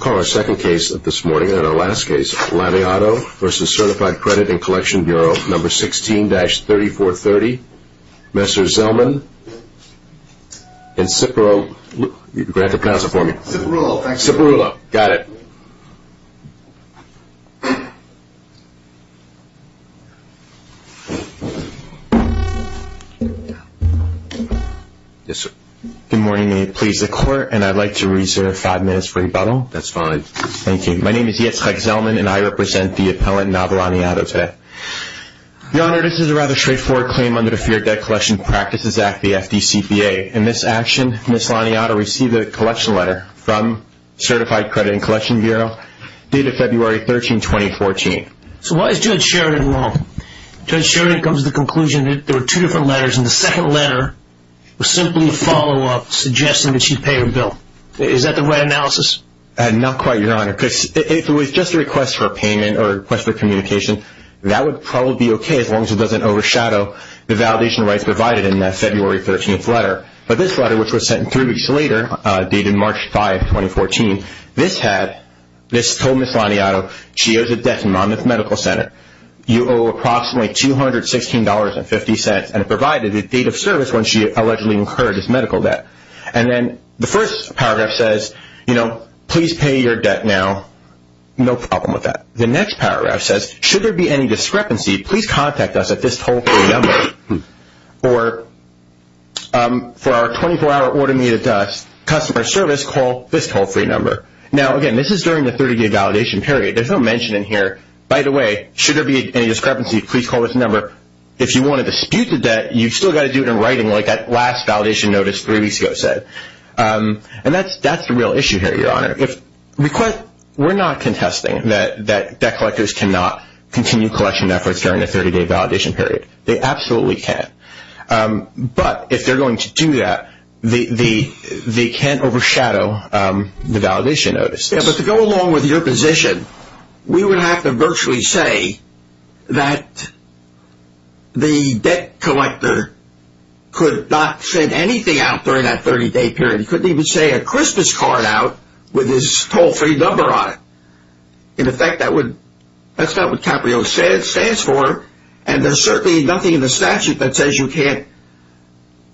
No. 16-3430, Mr. Zellman, and Ciparulo, go ahead and pass it for me, Ciparulo, got it. Yes, sir. Good morning, may it please the Court, and I'd like to reserve five minutes for rebuttal. That's fine. Thank you. My name is Yitzhak Zellman, and I represent the appellant, Nava Laniado, today. Your Honor, this is a rather straightforward claim under the Fair Debt Collection Practices Act, the FDCPA. In this action, Ms. Laniado received a collection letter from Certified Credit&Collection Bureau dated February 13, 2014. So why is Judge Sheridan wrong? Judge Sheridan comes to the conclusion that there were two different letters, and the second letter was simply a follow-up suggesting that she'd pay her bill. Is that the right analysis? Not quite, Your Honor, because if it was just a request for payment or a request for communication, that would probably be okay as long as it doesn't overshadow the validation rights provided in that February 13 letter. But this letter, which was sent three weeks later, dated March 5, 2014, this had, this told Ms. Laniado, she owes a debt amount at the medical center. You owe approximately $216.50, and it provided a date of service when she allegedly incurred this medical debt. And then the first paragraph says, you know, please pay your debt now. No problem with that. The next paragraph says, should there be any discrepancy, please contact us at this toll-free number. Or for our 24-hour automated customer service, call this toll-free number. Now, again, this is during the 30-day validation period. There's no mention in here, by the way, should there be any discrepancy, please call this number. If you want to dispute the debt, you've still got to do it in writing like that last validation notice three weeks ago said. And that's the real issue here, Your Honor. We're not contesting that debt collectors cannot continue collection efforts during the 30-day validation period. They absolutely can't. But if they're going to do that, they can't overshadow the validation notice. Yeah, but to go along with your position, we would have to virtually say that the debt collector could not send anything out during that 30-day period. He couldn't even send a Christmas card out with his toll-free number on it. In effect, that's not what CAPRIO stands for. And there's certainly nothing in the statute that says you can't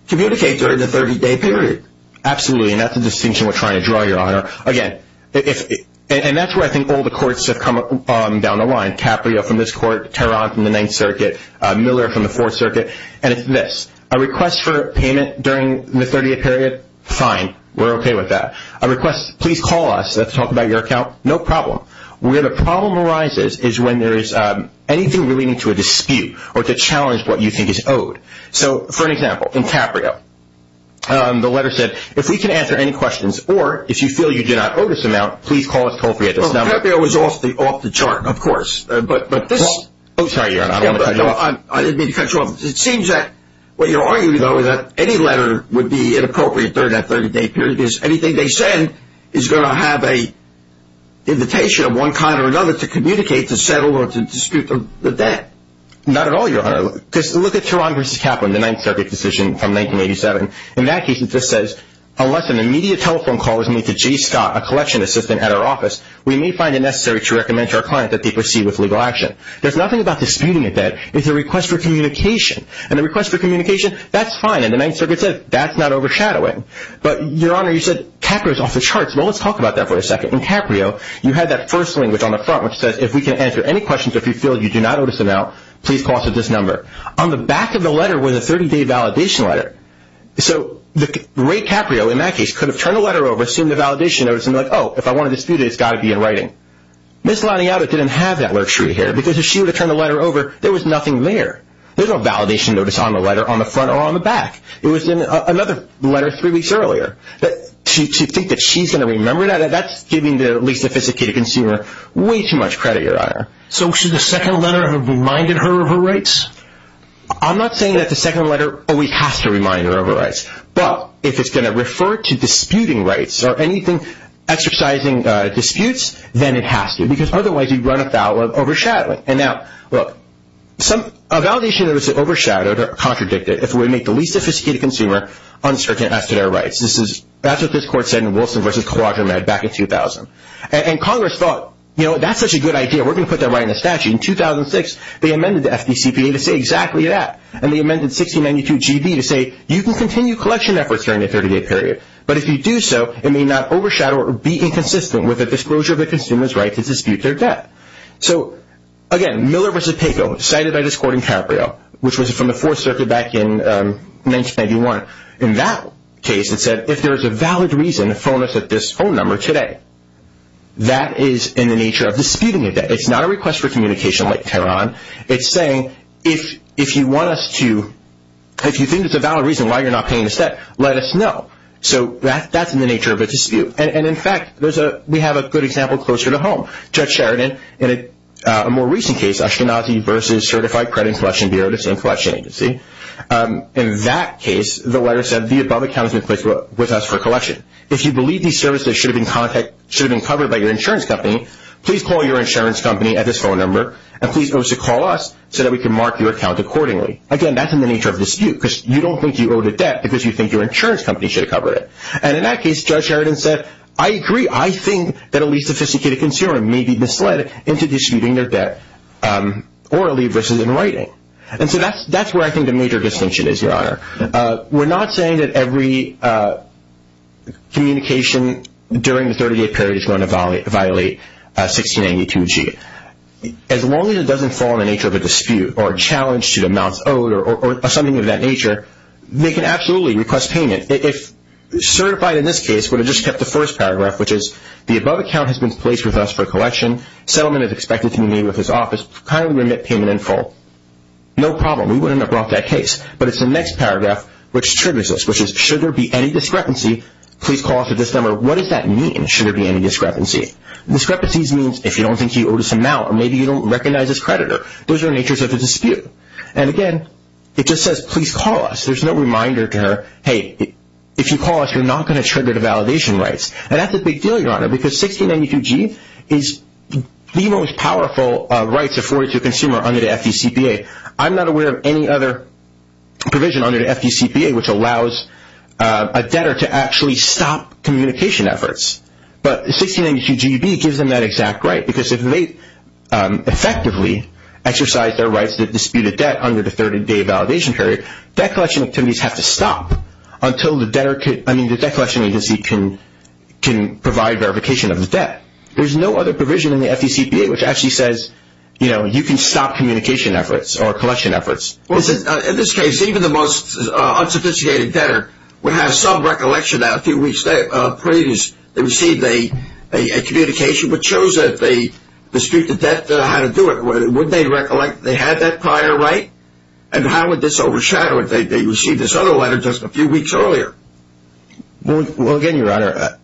communicate during the 30-day period. Absolutely, and that's the distinction we're trying to draw, Your Honor. Again, and that's where I think all the courts have come down the line, CAPRIO from this court, Tehran from the Ninth Circuit, Miller from the Fourth Circuit. And it's this, a request for payment during the 30-day period, fine, we're okay with that. A request, please call us, let's talk about your account, no problem. Where the problem arises is when there is anything relating to a dispute or to challenge what you think is owed. So, for example, in CAPRIO, the letter said, if we can answer any questions, or if you feel you do not owe this amount, please call us toll-free at this number. CAPRIO was off the chart, of course. Oh, sorry, Your Honor, I didn't mean to cut you off. It seems that what you're arguing, though, is that any letter would be inappropriate during that 30-day period because anything they send is going to have an invitation of one kind or another to communicate, to settle, or to dispute the debt. Not at all, Your Honor, because look at Tehran v. Kaplan, the Ninth Circuit decision from 1987. In that case, it just says, unless an immediate telephone call is made to Jay Scott, a collection assistant at our office, we may find it necessary to recommend to our client that they proceed with legal action. There's nothing about disputing a debt, it's a request for communication. And a request for communication, that's fine, and the Ninth Circuit says that's not overshadowing. But, Your Honor, you said CAPRIO is off the charts. Well, let's talk about that for a second. In CAPRIO, you had that first language on the front which says, if we can answer any questions or if you feel you do not owe this amount, please call us at this number. On the back of the letter was a 30-day validation letter. So Ray Caprio, in that case, could have turned the letter over, assumed the validation notice, and said, oh, if I want to dispute it, it's got to be in writing. Ms. Laniata didn't have that luxury here because if she would have turned the letter over, there was nothing there. There's no validation notice on the letter, on the front or on the back. It was in another letter three weeks earlier. To think that she's going to remember that, that's giving the least sophisticated consumer way too much credit, Your Honor. So should the second letter have reminded her of her rights? I'm not saying that the second letter always has to remind her of her rights. But if it's going to refer to disputing rights or anything exercising disputes, then it has to. Because otherwise, you run afoul of overshadowing. A validation notice is overshadowed or contradicted if we make the least sophisticated consumer uncertain as to their rights. That's what this Court said in Wilson v. Quadramed back in 2000. And Congress thought, you know, that's such a good idea. We're going to put that right in the statute. In 2006, they amended the FDCPA to say exactly that. And they amended 1692GB to say you can continue collection efforts during the 30-day period. But if you do so, it may not overshadow or be inconsistent with the disclosure of a consumer's right to dispute their debt. So, again, Miller v. Papo, cited by this Court in Cabrillo, which was from the Fourth Circuit back in 1991. In that case, it said if there is a valid reason to phone us at this phone number today, that is in the nature of disputing a debt. It's not a request for communication like Tehran. It's saying if you think there's a valid reason why you're not paying the debt, let us know. So that's in the nature of a dispute. And, in fact, we have a good example closer to home. Judge Sheridan, in a more recent case, Ashkenazi v. Certified Credit Collection Bureau, the same collection agency. In that case, the letter said the above account has been placed with us for collection. If you believe these services should have been covered by your insurance company, please call your insurance company at this phone number. And please also call us so that we can mark your account accordingly. Again, that's in the nature of dispute because you don't think you owe the debt because you think your insurance company should have covered it. And, in that case, Judge Sheridan said, I agree. I think that a least sophisticated consumer may be misled into disputing their debt orally versus in writing. And so that's where I think the major distinction is, Your Honor. We're not saying that every communication during the 30-day period is going to violate 1682G. As long as it doesn't fall in the nature of a dispute or a challenge to the amounts owed or something of that nature, they can absolutely request payment. Certified, in this case, would have just kept the first paragraph, which is, the above account has been placed with us for collection. Settlement is expected to be made with this office. Kindly remit payment in full. No problem. We wouldn't have brought that case. But it's the next paragraph which triggers this, which is, should there be any discrepancy, please call us at this number. What does that mean, should there be any discrepancy? Discrepancies means if you don't think you owe this amount or maybe you don't recognize this creditor. Those are natures of a dispute. And, again, it just says, please call us. There's no reminder to her, hey, if you call us, you're not going to trigger the validation rights. And that's a big deal, Your Honor, because 1682G is the most powerful rights afforded to a consumer under the FDCPA. I'm not aware of any other provision under the FDCPA which allows a debtor to actually stop communication efforts. But 1682Gb gives them that exact right because if they effectively exercise their rights to dispute a debt under the 30-day validation period, debt collection activities have to stop until the debtor can, I mean, the debt collection agency can provide verification of the debt. There's no other provision in the FDCPA which actually says, you know, you can stop communication efforts or collection efforts. Well, in this case, even the most unsophisticated debtor would have some recollection that a few weeks previous they received a communication which shows that they dispute the debt, how to do it. Would they recollect they had that prior right? And how would this overshadow if they received this other letter just a few weeks earlier? Well, again, Your Honor,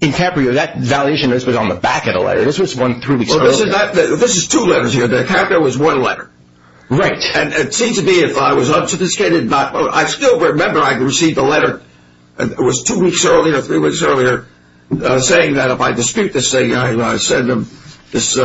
in Caprio, that validation notice was on the back of the letter. This was one three weeks earlier. Well, this is two letters here. The Caprio was one letter. Right. And it seems to me if I was unsophisticated, I still remember I received a letter. It was two weeks earlier, three weeks earlier, saying that if I dispute this thing, I send them this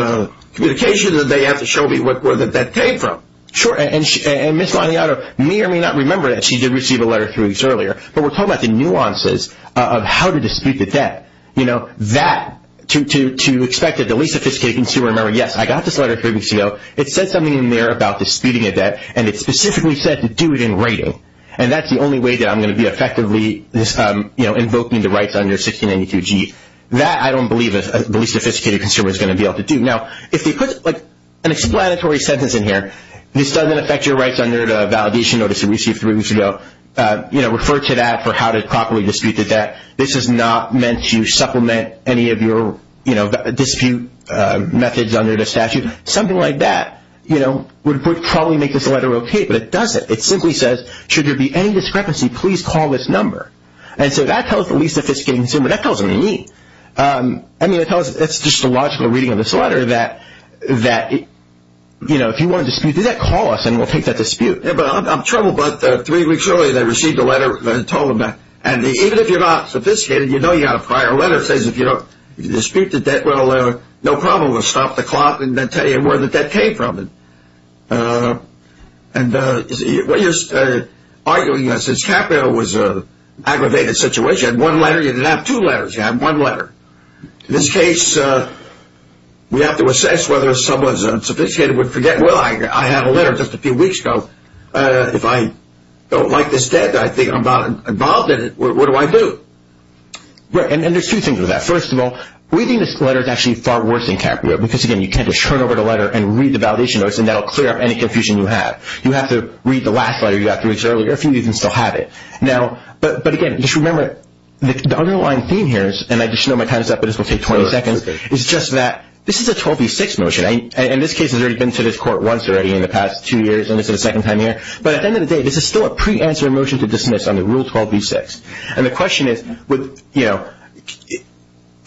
communication and they have to show me where the debt came from. Sure. And Ms. Laniato may or may not remember that she did receive a letter three weeks earlier, but we're talking about the nuances of how to dispute the debt. You know, that, to expect a least sophisticated consumer to remember, yes, I got this letter three weeks ago. It said something in there about disputing a debt, and it specifically said to do it in writing. And that's the only way that I'm going to be effectively invoking the rights under 1692G. That I don't believe a least sophisticated consumer is going to be able to do. Now, if they put like an explanatory sentence in here, this doesn't affect your rights under the validation notice you received three weeks ago, refer to that for how to properly dispute the debt. This is not meant to supplement any of your dispute methods under the statute. Something like that would probably make this letter okay, but it doesn't. It simply says, should there be any discrepancy, please call this number. And so that tells the least sophisticated consumer, that tells them you're mean. I mean, that's just a logical reading of this letter that, you know, if you want to dispute the debt, call us and we'll take that dispute. Yeah, but I'm troubled about three weeks earlier they received a letter and told them that. And even if you're not sophisticated, you know you got a prior letter that says if you dispute the debt, well, no problem, we'll stop the clock and then tell you where the debt came from. And what you're arguing is that since Capital was an aggravated situation, one letter, you didn't have two letters, you had one letter. In this case, we have to assess whether someone who's unsophisticated would forget, well, I had a letter just a few weeks ago. If I don't like this debt, I think I'm not involved in it, what do I do? Right, and there's two things with that. First of all, reading this letter is actually far worse than Capital, because, again, you tend to turn over the letter and read the validation notes, and that will clear up any confusion you have. You have to read the last letter you got three weeks earlier. A few of you can still have it. But, again, just remember the underlying theme here is, and I just know my time is up, but this will take 20 seconds, is just that this is a 12v6 motion. And this case has already been to this court once already in the past two years, and this is the second time here. But at the end of the day, this is still a preanswer motion to dismiss under Rule 12v6. And the question is,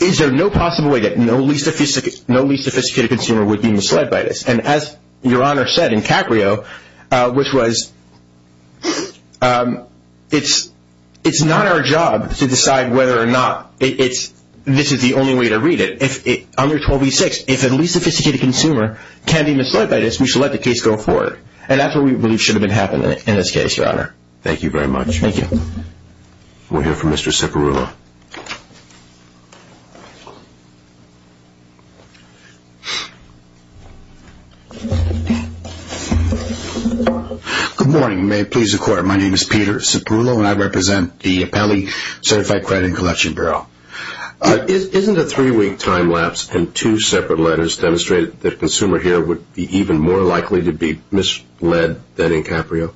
is there no possible way that no least sophisticated consumer would be misled by this? And as Your Honor said in Caprio, which was, it's not our job to decide whether or not this is the only way to read it. Under 12v6, if a least sophisticated consumer can be misled by this, we should let the case go forward. And that's what we believe should have happened in this case, Your Honor. Thank you very much. Thank you. We'll hear from Mr. Ciparulo. Good morning, and may it please the Court. My name is Peter Ciparulo, and I represent the Appellee Certified Credit and Collection Bureau. Isn't a three-week time lapse and two separate letters demonstrated that a consumer here would be even more likely to be misled than in Caprio?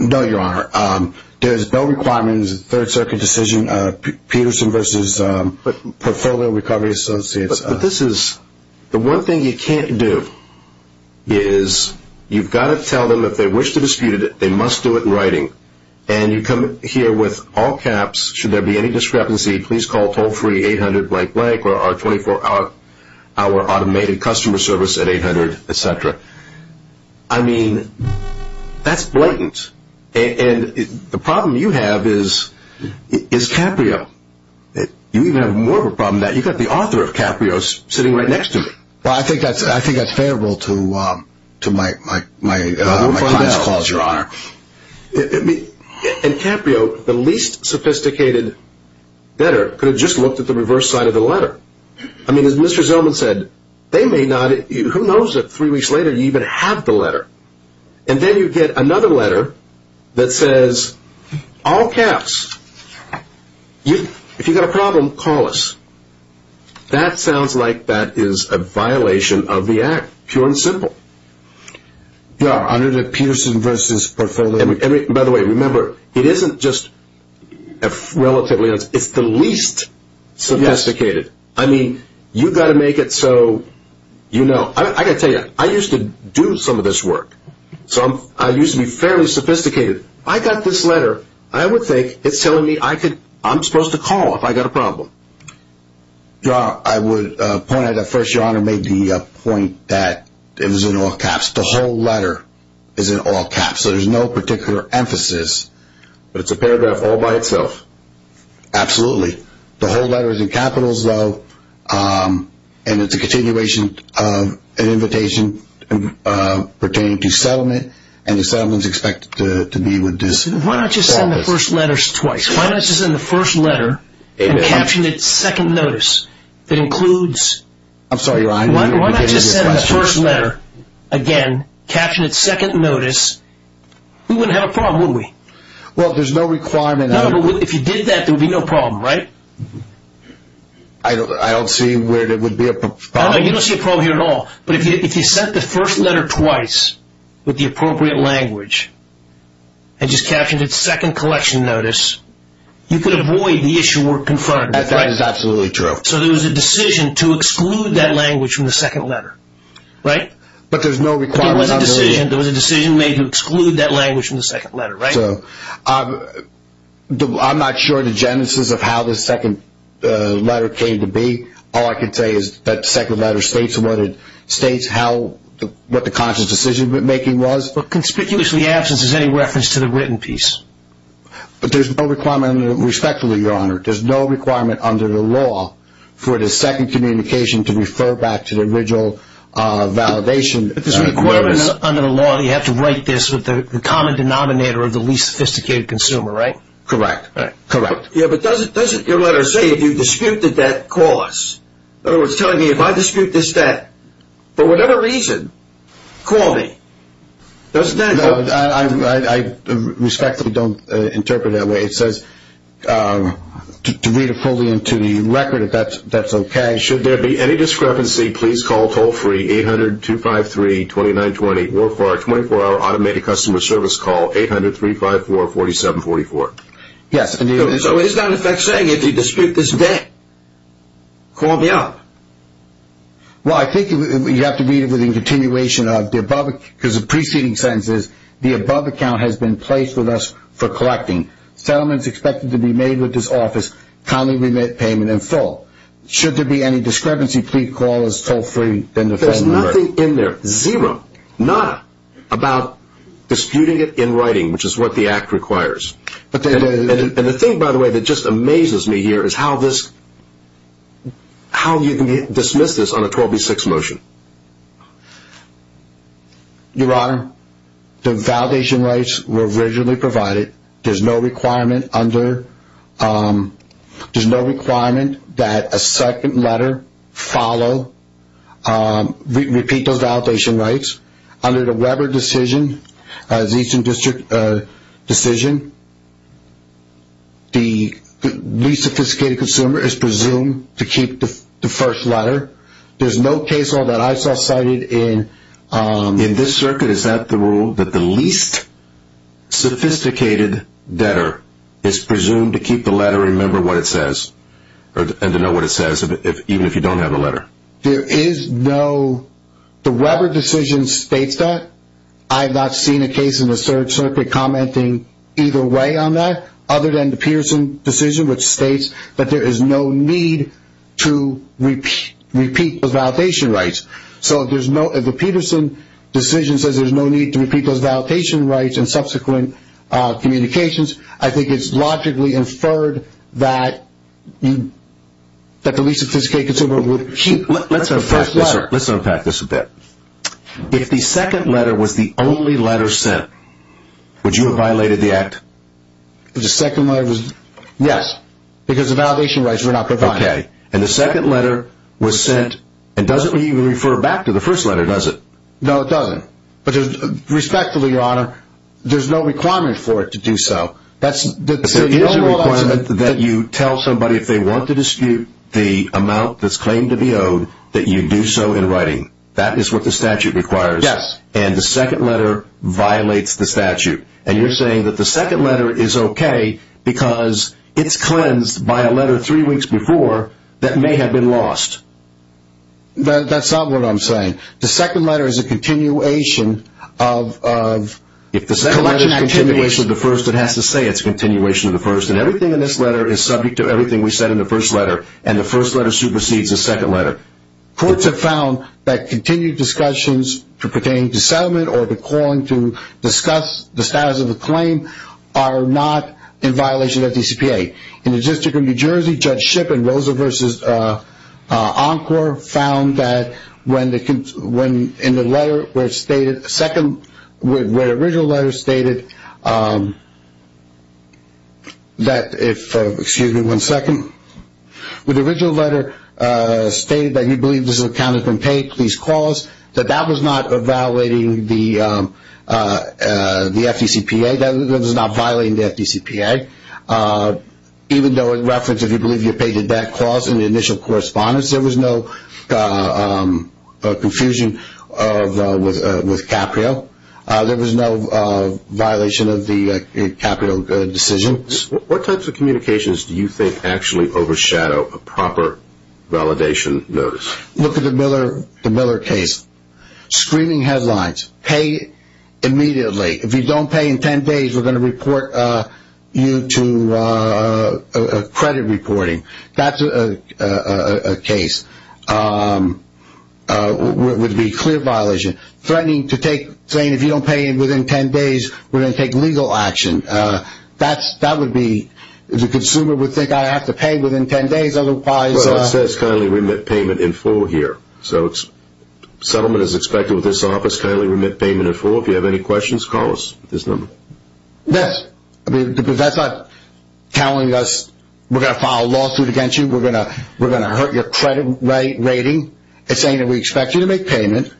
No, Your Honor. There's no requirements in the Third Circuit decision, Peterson v. Portfolio Recovery Associates. But this is, the one thing you can't do is you've got to tell them if they wish to dispute it, they must do it in writing. And you come here with all caps, should there be any discrepancy, please call toll-free 800-blank-blank or our 24-hour automated customer service at 800-etc. I mean, that's blatant. And the problem you have is Caprio. You even have more of a problem than that. You've got the author of Caprio sitting right next to me. Well, I think that's favorable to my client's calls, Your Honor. And Caprio, the least sophisticated letter, could have just looked at the reverse side of the letter. I mean, as Mr. Zellman said, they may not, who knows if three weeks later you even have the letter. And then you get another letter that says, all caps. If you've got a problem, call us. That sounds like that is a violation of the act, pure and simple. Your Honor, the Peterson v. Portfolio. By the way, remember, it isn't just relatively, it's the least sophisticated. I mean, you've got to make it so you know. I've got to tell you, I used to do some of this work, so I used to be fairly sophisticated. I got this letter. I would think it's telling me I'm supposed to call if I've got a problem. I would point out that, first, Your Honor made the point that it was in all caps. The whole letter is in all caps, so there's no particular emphasis. But it's a paragraph all by itself. Absolutely. The whole letter is in capitals, though, and it's a continuation of an invitation pertaining to settlement, and the settlement is expected to be with this office. Why not just send the first letters twice? Why not just send the first letter and caption it second notice? I'm sorry, Your Honor. Why not just send the first letter again, caption it second notice? We wouldn't have a problem, would we? Well, there's no requirement. No, but if you did that, there would be no problem, right? I don't see where there would be a problem. No, you don't see a problem here at all. But if you sent the first letter twice with the appropriate language and just captioned it second collection notice, you could avoid the issue we're confronting. That is absolutely true. So there was a decision to exclude that language from the second letter, right? But there's no requirement. There was a decision made to exclude that language from the second letter, right? I'm not sure the genesis of how the second letter came to be. All I can say is that the second letter states what the conscious decision-making was. But conspicuously absent is any reference to the written piece. But there's no requirement, respectfully, Your Honor. There's no requirement under the law for the second communication to refer back to the original validation notice. But there's a requirement under the law that you have to write this with the common denominator of the least sophisticated consumer, right? Correct. Correct. Yeah, but doesn't your letter say if you dispute the debt, call us? In other words, telling me if I dispute this debt, for whatever reason, call me. Doesn't that help? No, I respectfully don't interpret it that way. It says to read it fully into the record, if that's okay. Should there be any discrepancy, please call toll-free, 800-253-2920, or for a 24-hour automated customer service call, 800-354-4744. Yes. So is that in effect saying if you dispute this debt, call me up? Well, I think you have to read it with the continuation of the above. Because the preceding sentence is, the above account has been placed with us for collecting. Settlement is expected to be made with this office, commonly remit payment in full. Should there be any discrepancy, please call us toll-free. There's nothing in there. Zero. Not about disputing it in writing, which is what the Act requires. And the thing, by the way, that just amazes me here is how you can dismiss this on a 12B6 motion. Your Honor, the validation rights were originally provided. There's no requirement that a second letter follow, repeat those validation rights. Under the Weber decision, the Eastern District decision, the least sophisticated consumer is presumed to keep the first letter. There's no case law that I saw cited in this circuit. Is that the rule, that the least sophisticated debtor is presumed to keep the letter and remember what it says, and to know what it says, even if you don't have the letter? There is no. The Weber decision states that. I have not seen a case in the third circuit commenting either way on that, other than the Peterson decision, which states that there is no need to repeat those validation rights. So if the Peterson decision says there's no need to repeat those validation rights in subsequent communications, I think it's logically inferred that the least sophisticated consumer would keep the first letter. Let's unpack this a bit. If the second letter was the only letter sent, would you have violated the Act? The second letter was, yes, because the validation rights were not provided. And the second letter was sent, and it doesn't even refer back to the first letter, does it? No, it doesn't. Respectfully, Your Honor, there's no requirement for it to do so. There is a requirement that you tell somebody if they want to dispute the amount that's claimed to be owed that you do so in writing. That is what the statute requires, and the second letter violates the statute. And you're saying that the second letter is okay because it's cleansed by a letter three weeks before that may have been lost. That's not what I'm saying. The second letter is a continuation of... I'm not going to say it's a continuation of the first, and everything in this letter is subject to everything we said in the first letter, and the first letter supersedes the second letter. Courts have found that continued discussions pertaining to settlement or to calling to discuss the status of the claim are not in violation of DCPA. In the District of New Jersey, Judge Shipp in Rosa v. Encore found that in the letter where it stated, where the original letter stated that if, excuse me one second, where the original letter stated that you believe this account has been paid, please call us, that that was not violating the FDCPA. That was not violating the FDCPA, even though in reference, if you believe you paid the debt clause in the initial correspondence, there was no confusion with Caprio. There was no violation of the Caprio decision. What types of communications do you think actually overshadow a proper validation notice? Look at the Miller case. Screaming headlines. Pay immediately. If you don't pay in 10 days, we're going to report you to credit reporting. That's a case where it would be clear violation. Threatening to take, saying if you don't pay within 10 days, we're going to take legal action. That would be, the consumer would think I have to pay within 10 days, otherwise. It says kindly remit payment in full here. So settlement is expected with this office. Kindly remit payment in full. If you have any questions, call us at this number. That's not telling us we're going to file a lawsuit against you. We're going to hurt your credit rating. It's saying that we expect you to make payment,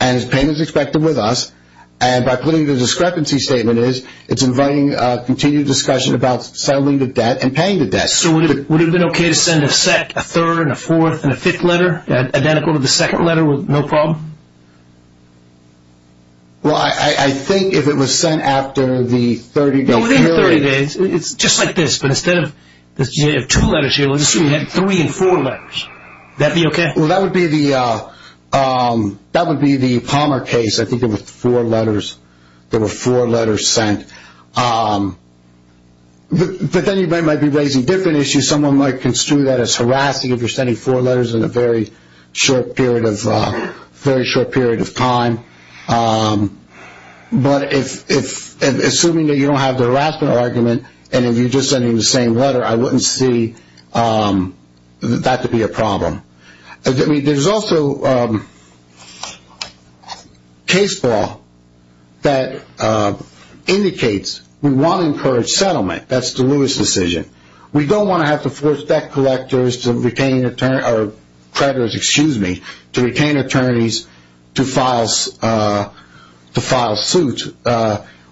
and payment is expected with us. And by putting the discrepancy statement is, it's inviting continued discussion about settling the debt and paying the debt. So would it have been okay to send a sec, a third, and a fourth, and a fifth letter, identical to the second letter with no problem? Well, I think if it was sent after the 30-day period. No, within 30 days. It's just like this, but instead of two letters here, let's assume you had three and four letters. Would that be okay? Well, that would be the Palmer case. I think there were four letters. There were four letters sent. But then you might be raising different issues. Someone might construe that as harassing if you're sending four letters in a very short period of time. But assuming that you don't have the harassment argument, and if you're just sending the same letter, I wouldn't see that to be a problem. There's also case law that indicates we want to encourage settlement. That's the Lewis decision. We don't want to have to force debt collectors to retain attorneys to file suits.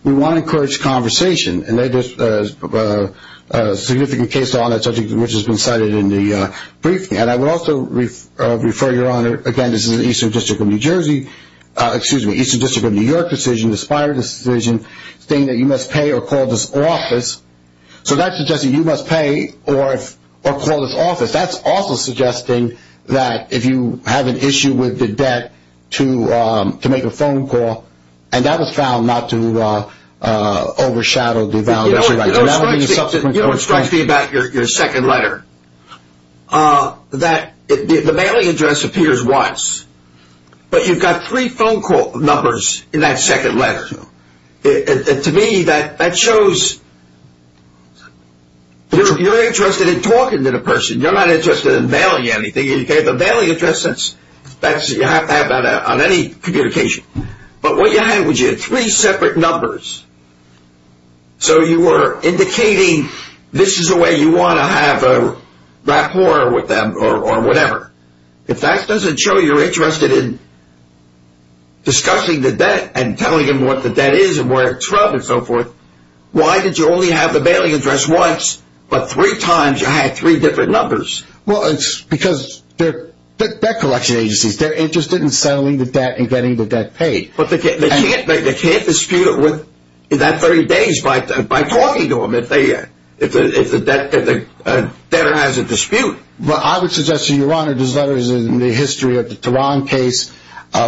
We want to encourage conversation, and there's a significant case law on that subject which has been cited in the briefing. And I would also refer your Honor, again, this is the Eastern District of New Jersey, excuse me, Eastern District of New York decision, the Spire decision, saying that you must pay or call this office. So that's suggesting you must pay or call this office. That's also suggesting that if you have an issue with the debt to make a phone call, and that was found not to overshadow the violation. You know what strikes me about your second letter? The mailing address appears once, but you've got three phone call numbers in that second letter. To me, that shows you're interested in talking to the person. You're not interested in mailing anything. The mailing address, you have that on any communication. But what you have is three separate numbers. So you are indicating this is the way you want to have a rapport with them or whatever. If that doesn't show you're interested in discussing the debt and telling them what the debt is and where it's from and so forth, why did you only have the mailing address once, but three times you had three different numbers? Well, it's because they're debt collection agencies. They're interested in settling the debt and getting the debt paid. But they can't dispute it within that 30 days by talking to them if the debtor has a dispute. Well, I would suggest to you, Your Honor, this letter is in the history of the Tehran case,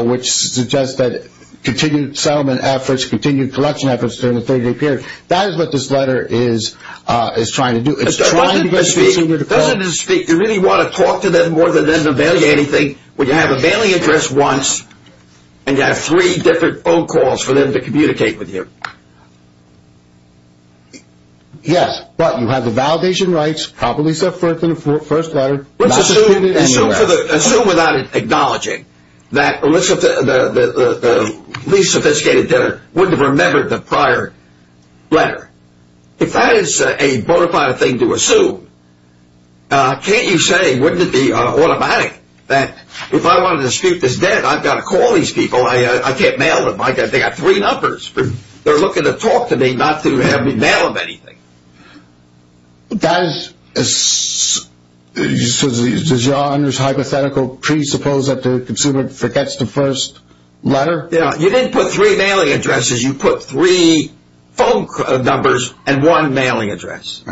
which suggests that continued settlement efforts, continued collection efforts during the 30-day period. That is what this letter is trying to do. It's trying to get a dispute with the person. Doesn't it speak to really want to talk to them more than them to mail you anything when you have a mailing address once and you have three different phone calls for them to communicate with you? Yes, but you have the validation rights, properly set forth in the first letter. Let's assume without acknowledging that the least sophisticated debtor wouldn't have remembered the prior letter. If that is a bona fide thing to assume, can't you say wouldn't it be automatic that if I wanted to dispute this debt, I've got to call these people. I can't mail them. They've got three numbers. They're looking to talk to me, not to have me mail them anything. Does Your Honor's hypothetical presuppose that the consumer forgets the first letter? You didn't put three mailing addresses. You put three phone numbers and one mailing address.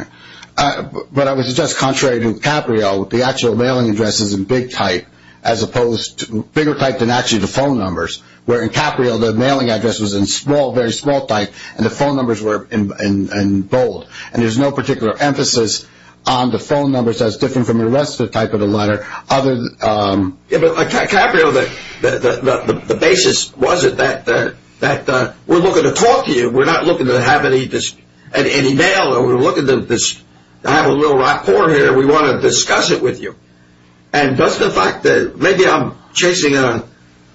But I would suggest contrary to Caprio, the actual mailing address is in big type as opposed to bigger type than actually the phone numbers, where in Caprio the mailing address was in small, very small type, and the phone numbers were in bold. And there's no particular emphasis on the phone numbers as different from the rest of the type of the letter. Caprio, the basis was that we're looking to talk to you. We're not looking to have any mail. We're looking to have a little rapport here. We want to discuss it with you. And does the fact that maybe I'm chasing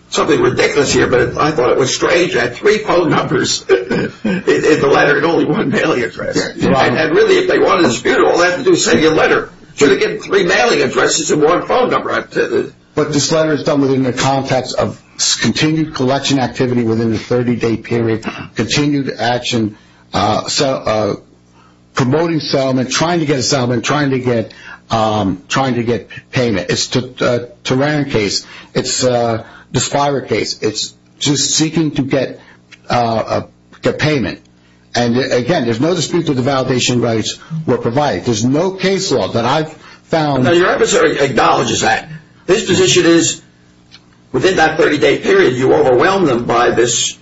something ridiculous here, but I thought it was strange you had three phone numbers in the letter and only one mailing address. And really if they want to dispute all that to do is send you a letter. Should have given three mailing addresses and one phone number. But this letter is done within the context of continued collection activity within the 30-day period, continued action, promoting settlement, trying to get a settlement, trying to get payment. It's a Taran case. It's a DSPIRA case. It's just seeking to get payment. And, again, there's no dispute that the validation rights were provided. There's no case law that I've found. Now, your emissary acknowledges that. His position is within that 30-day period, you overwhelmed them by this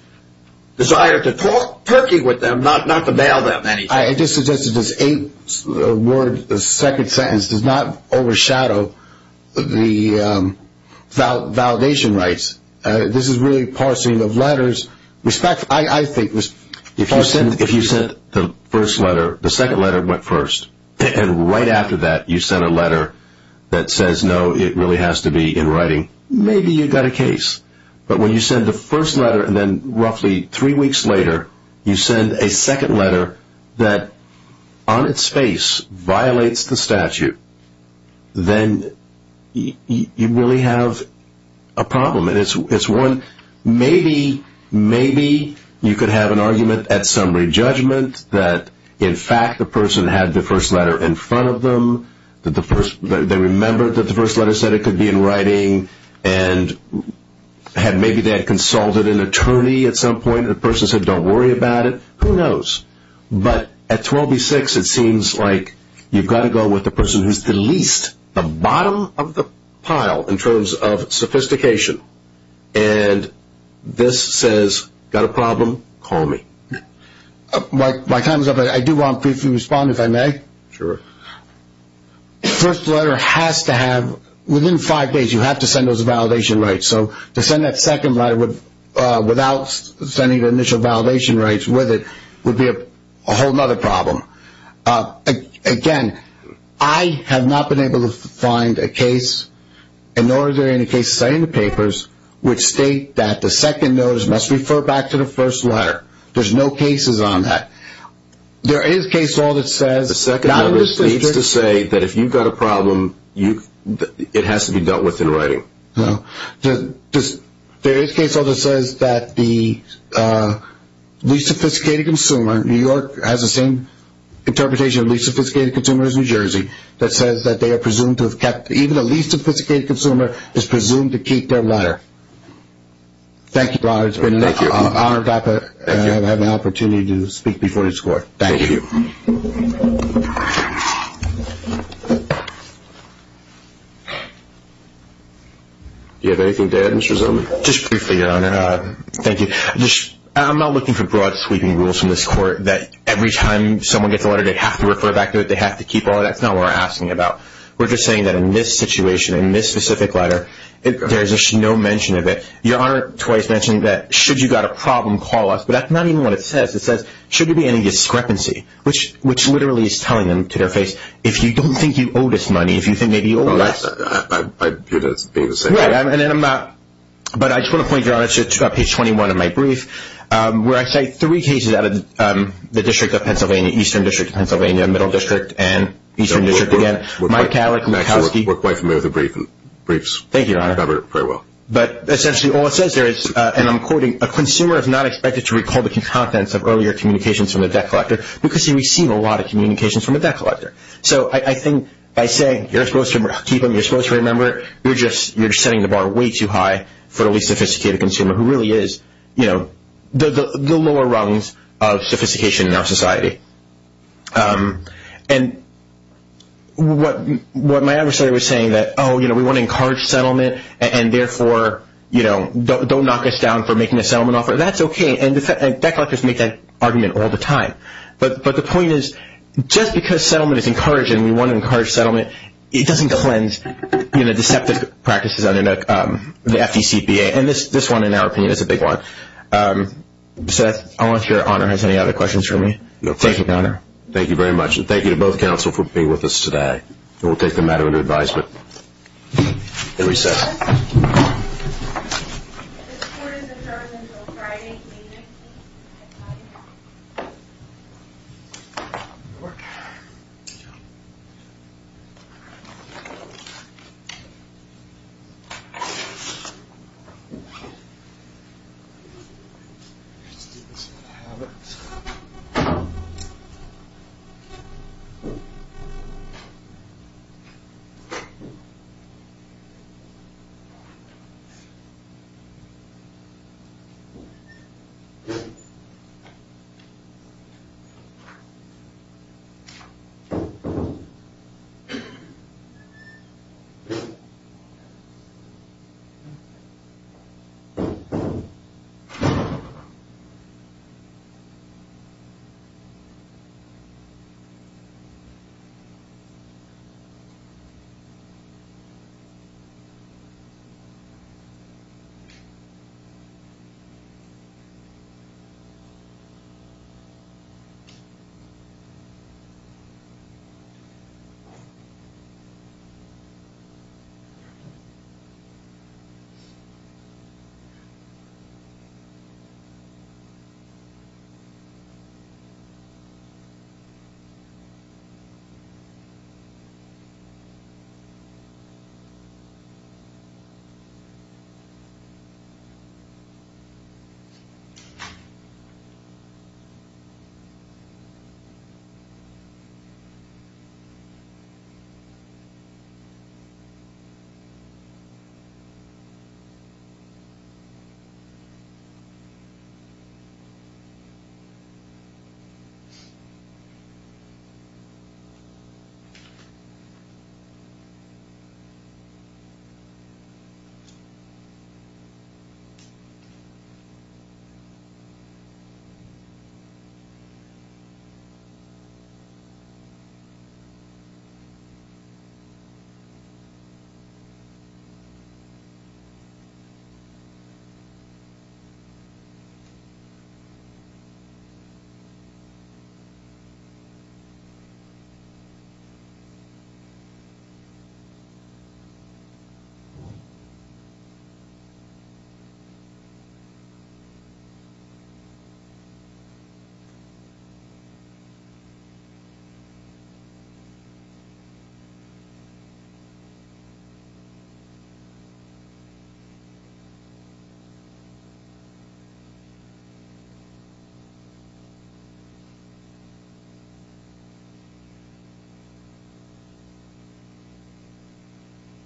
desire to talk turkey with them, not to mail them anything. I just suggested this second sentence does not overshadow the validation rights. This is really parsing of letters. I think if you sent the first letter, the second letter went first, and right after that you sent a letter that says, no, it really has to be in writing, maybe you've got a case. But when you send the first letter and then roughly three weeks later you send a second letter that, on its face, violates the statute, then you really have a problem. Maybe you could have an argument at summary judgment that, in fact, the person had the first letter in front of them, that they remembered that the first letter said it could be in writing, and maybe they had consulted an attorney at some point, and the person said, don't worry about it, who knows. But at 12B6, it seems like you've got to go with the person who's the least, the bottom of the pile in terms of sophistication. And this says, got a problem, call me. My time is up. I do want to briefly respond, if I may. Sure. First letter has to have, within five days, you have to send those validation rights. So to send that second letter without sending the initial validation rights with it would be a whole other problem. Again, I have not been able to find a case, and nor is there any case study in the papers, which state that the second notice must refer back to the first letter. There's no cases on that. There is a case law that says the second notice needs to say that if you've got a problem, it has to be dealt with in writing. There is case law that says that the least sophisticated consumer, New York has the same interpretation of least sophisticated consumer as New Jersey, that says that they are presumed to have kept, even the least sophisticated consumer is presumed to keep their letter. Thank you, Robert. It's been an honor to have the opportunity to speak before this court. Thank you. Do you have anything to add, Mr. Zomen? Just briefly, Your Honor. Thank you. I'm not looking for broad sweeping rules from this court that every time someone gets a letter, they have to refer back to it, they have to keep all of it. That's not what we're asking about. We're just saying that in this situation, in this specific letter, there's just no mention of it. Your Honor twice mentioned that should you got a problem, call us, but that's not even what it says. It says should there be any discrepancy, which literally is telling them to their face, if you don't think you owe this money, if you think maybe you owe less. Right. But I just want to point, Your Honor, to page 21 of my brief, where I cite three cases out of the District of Pennsylvania, Eastern District of Pennsylvania, Middle District, and Eastern District again. We're quite familiar with the briefs. Thank you, Your Honor. Very well. But essentially all it says there is, and I'm quoting, a consumer is not expected to recall the contents of earlier communications from the debt collector because he received a lot of communications from the debt collector. So I think by saying you're supposed to keep them, you're supposed to remember, you're just setting the bar way too high for the least sophisticated consumer, who really is the lower rungs of sophistication in our society. And what my adversary was saying that, oh, we want to encourage settlement, and therefore don't knock us down for making a settlement offer, that's okay. And debt collectors make that argument all the time. But the point is, just because settlement is encouraged and we want to encourage settlement, it doesn't cleanse deceptive practices under the FDCPA. And this one, in our opinion, is a big one. Seth, I don't know if Your Honor has any other questions for me. No, thank you. Thank you, Your Honor. Thank you very much. And thank you to both counsel for being with us today. And we'll take the matter into advisement and recess. This court is adjourned until Friday evening. Thank you. Thank you. Thank you. Thank you. Thank you.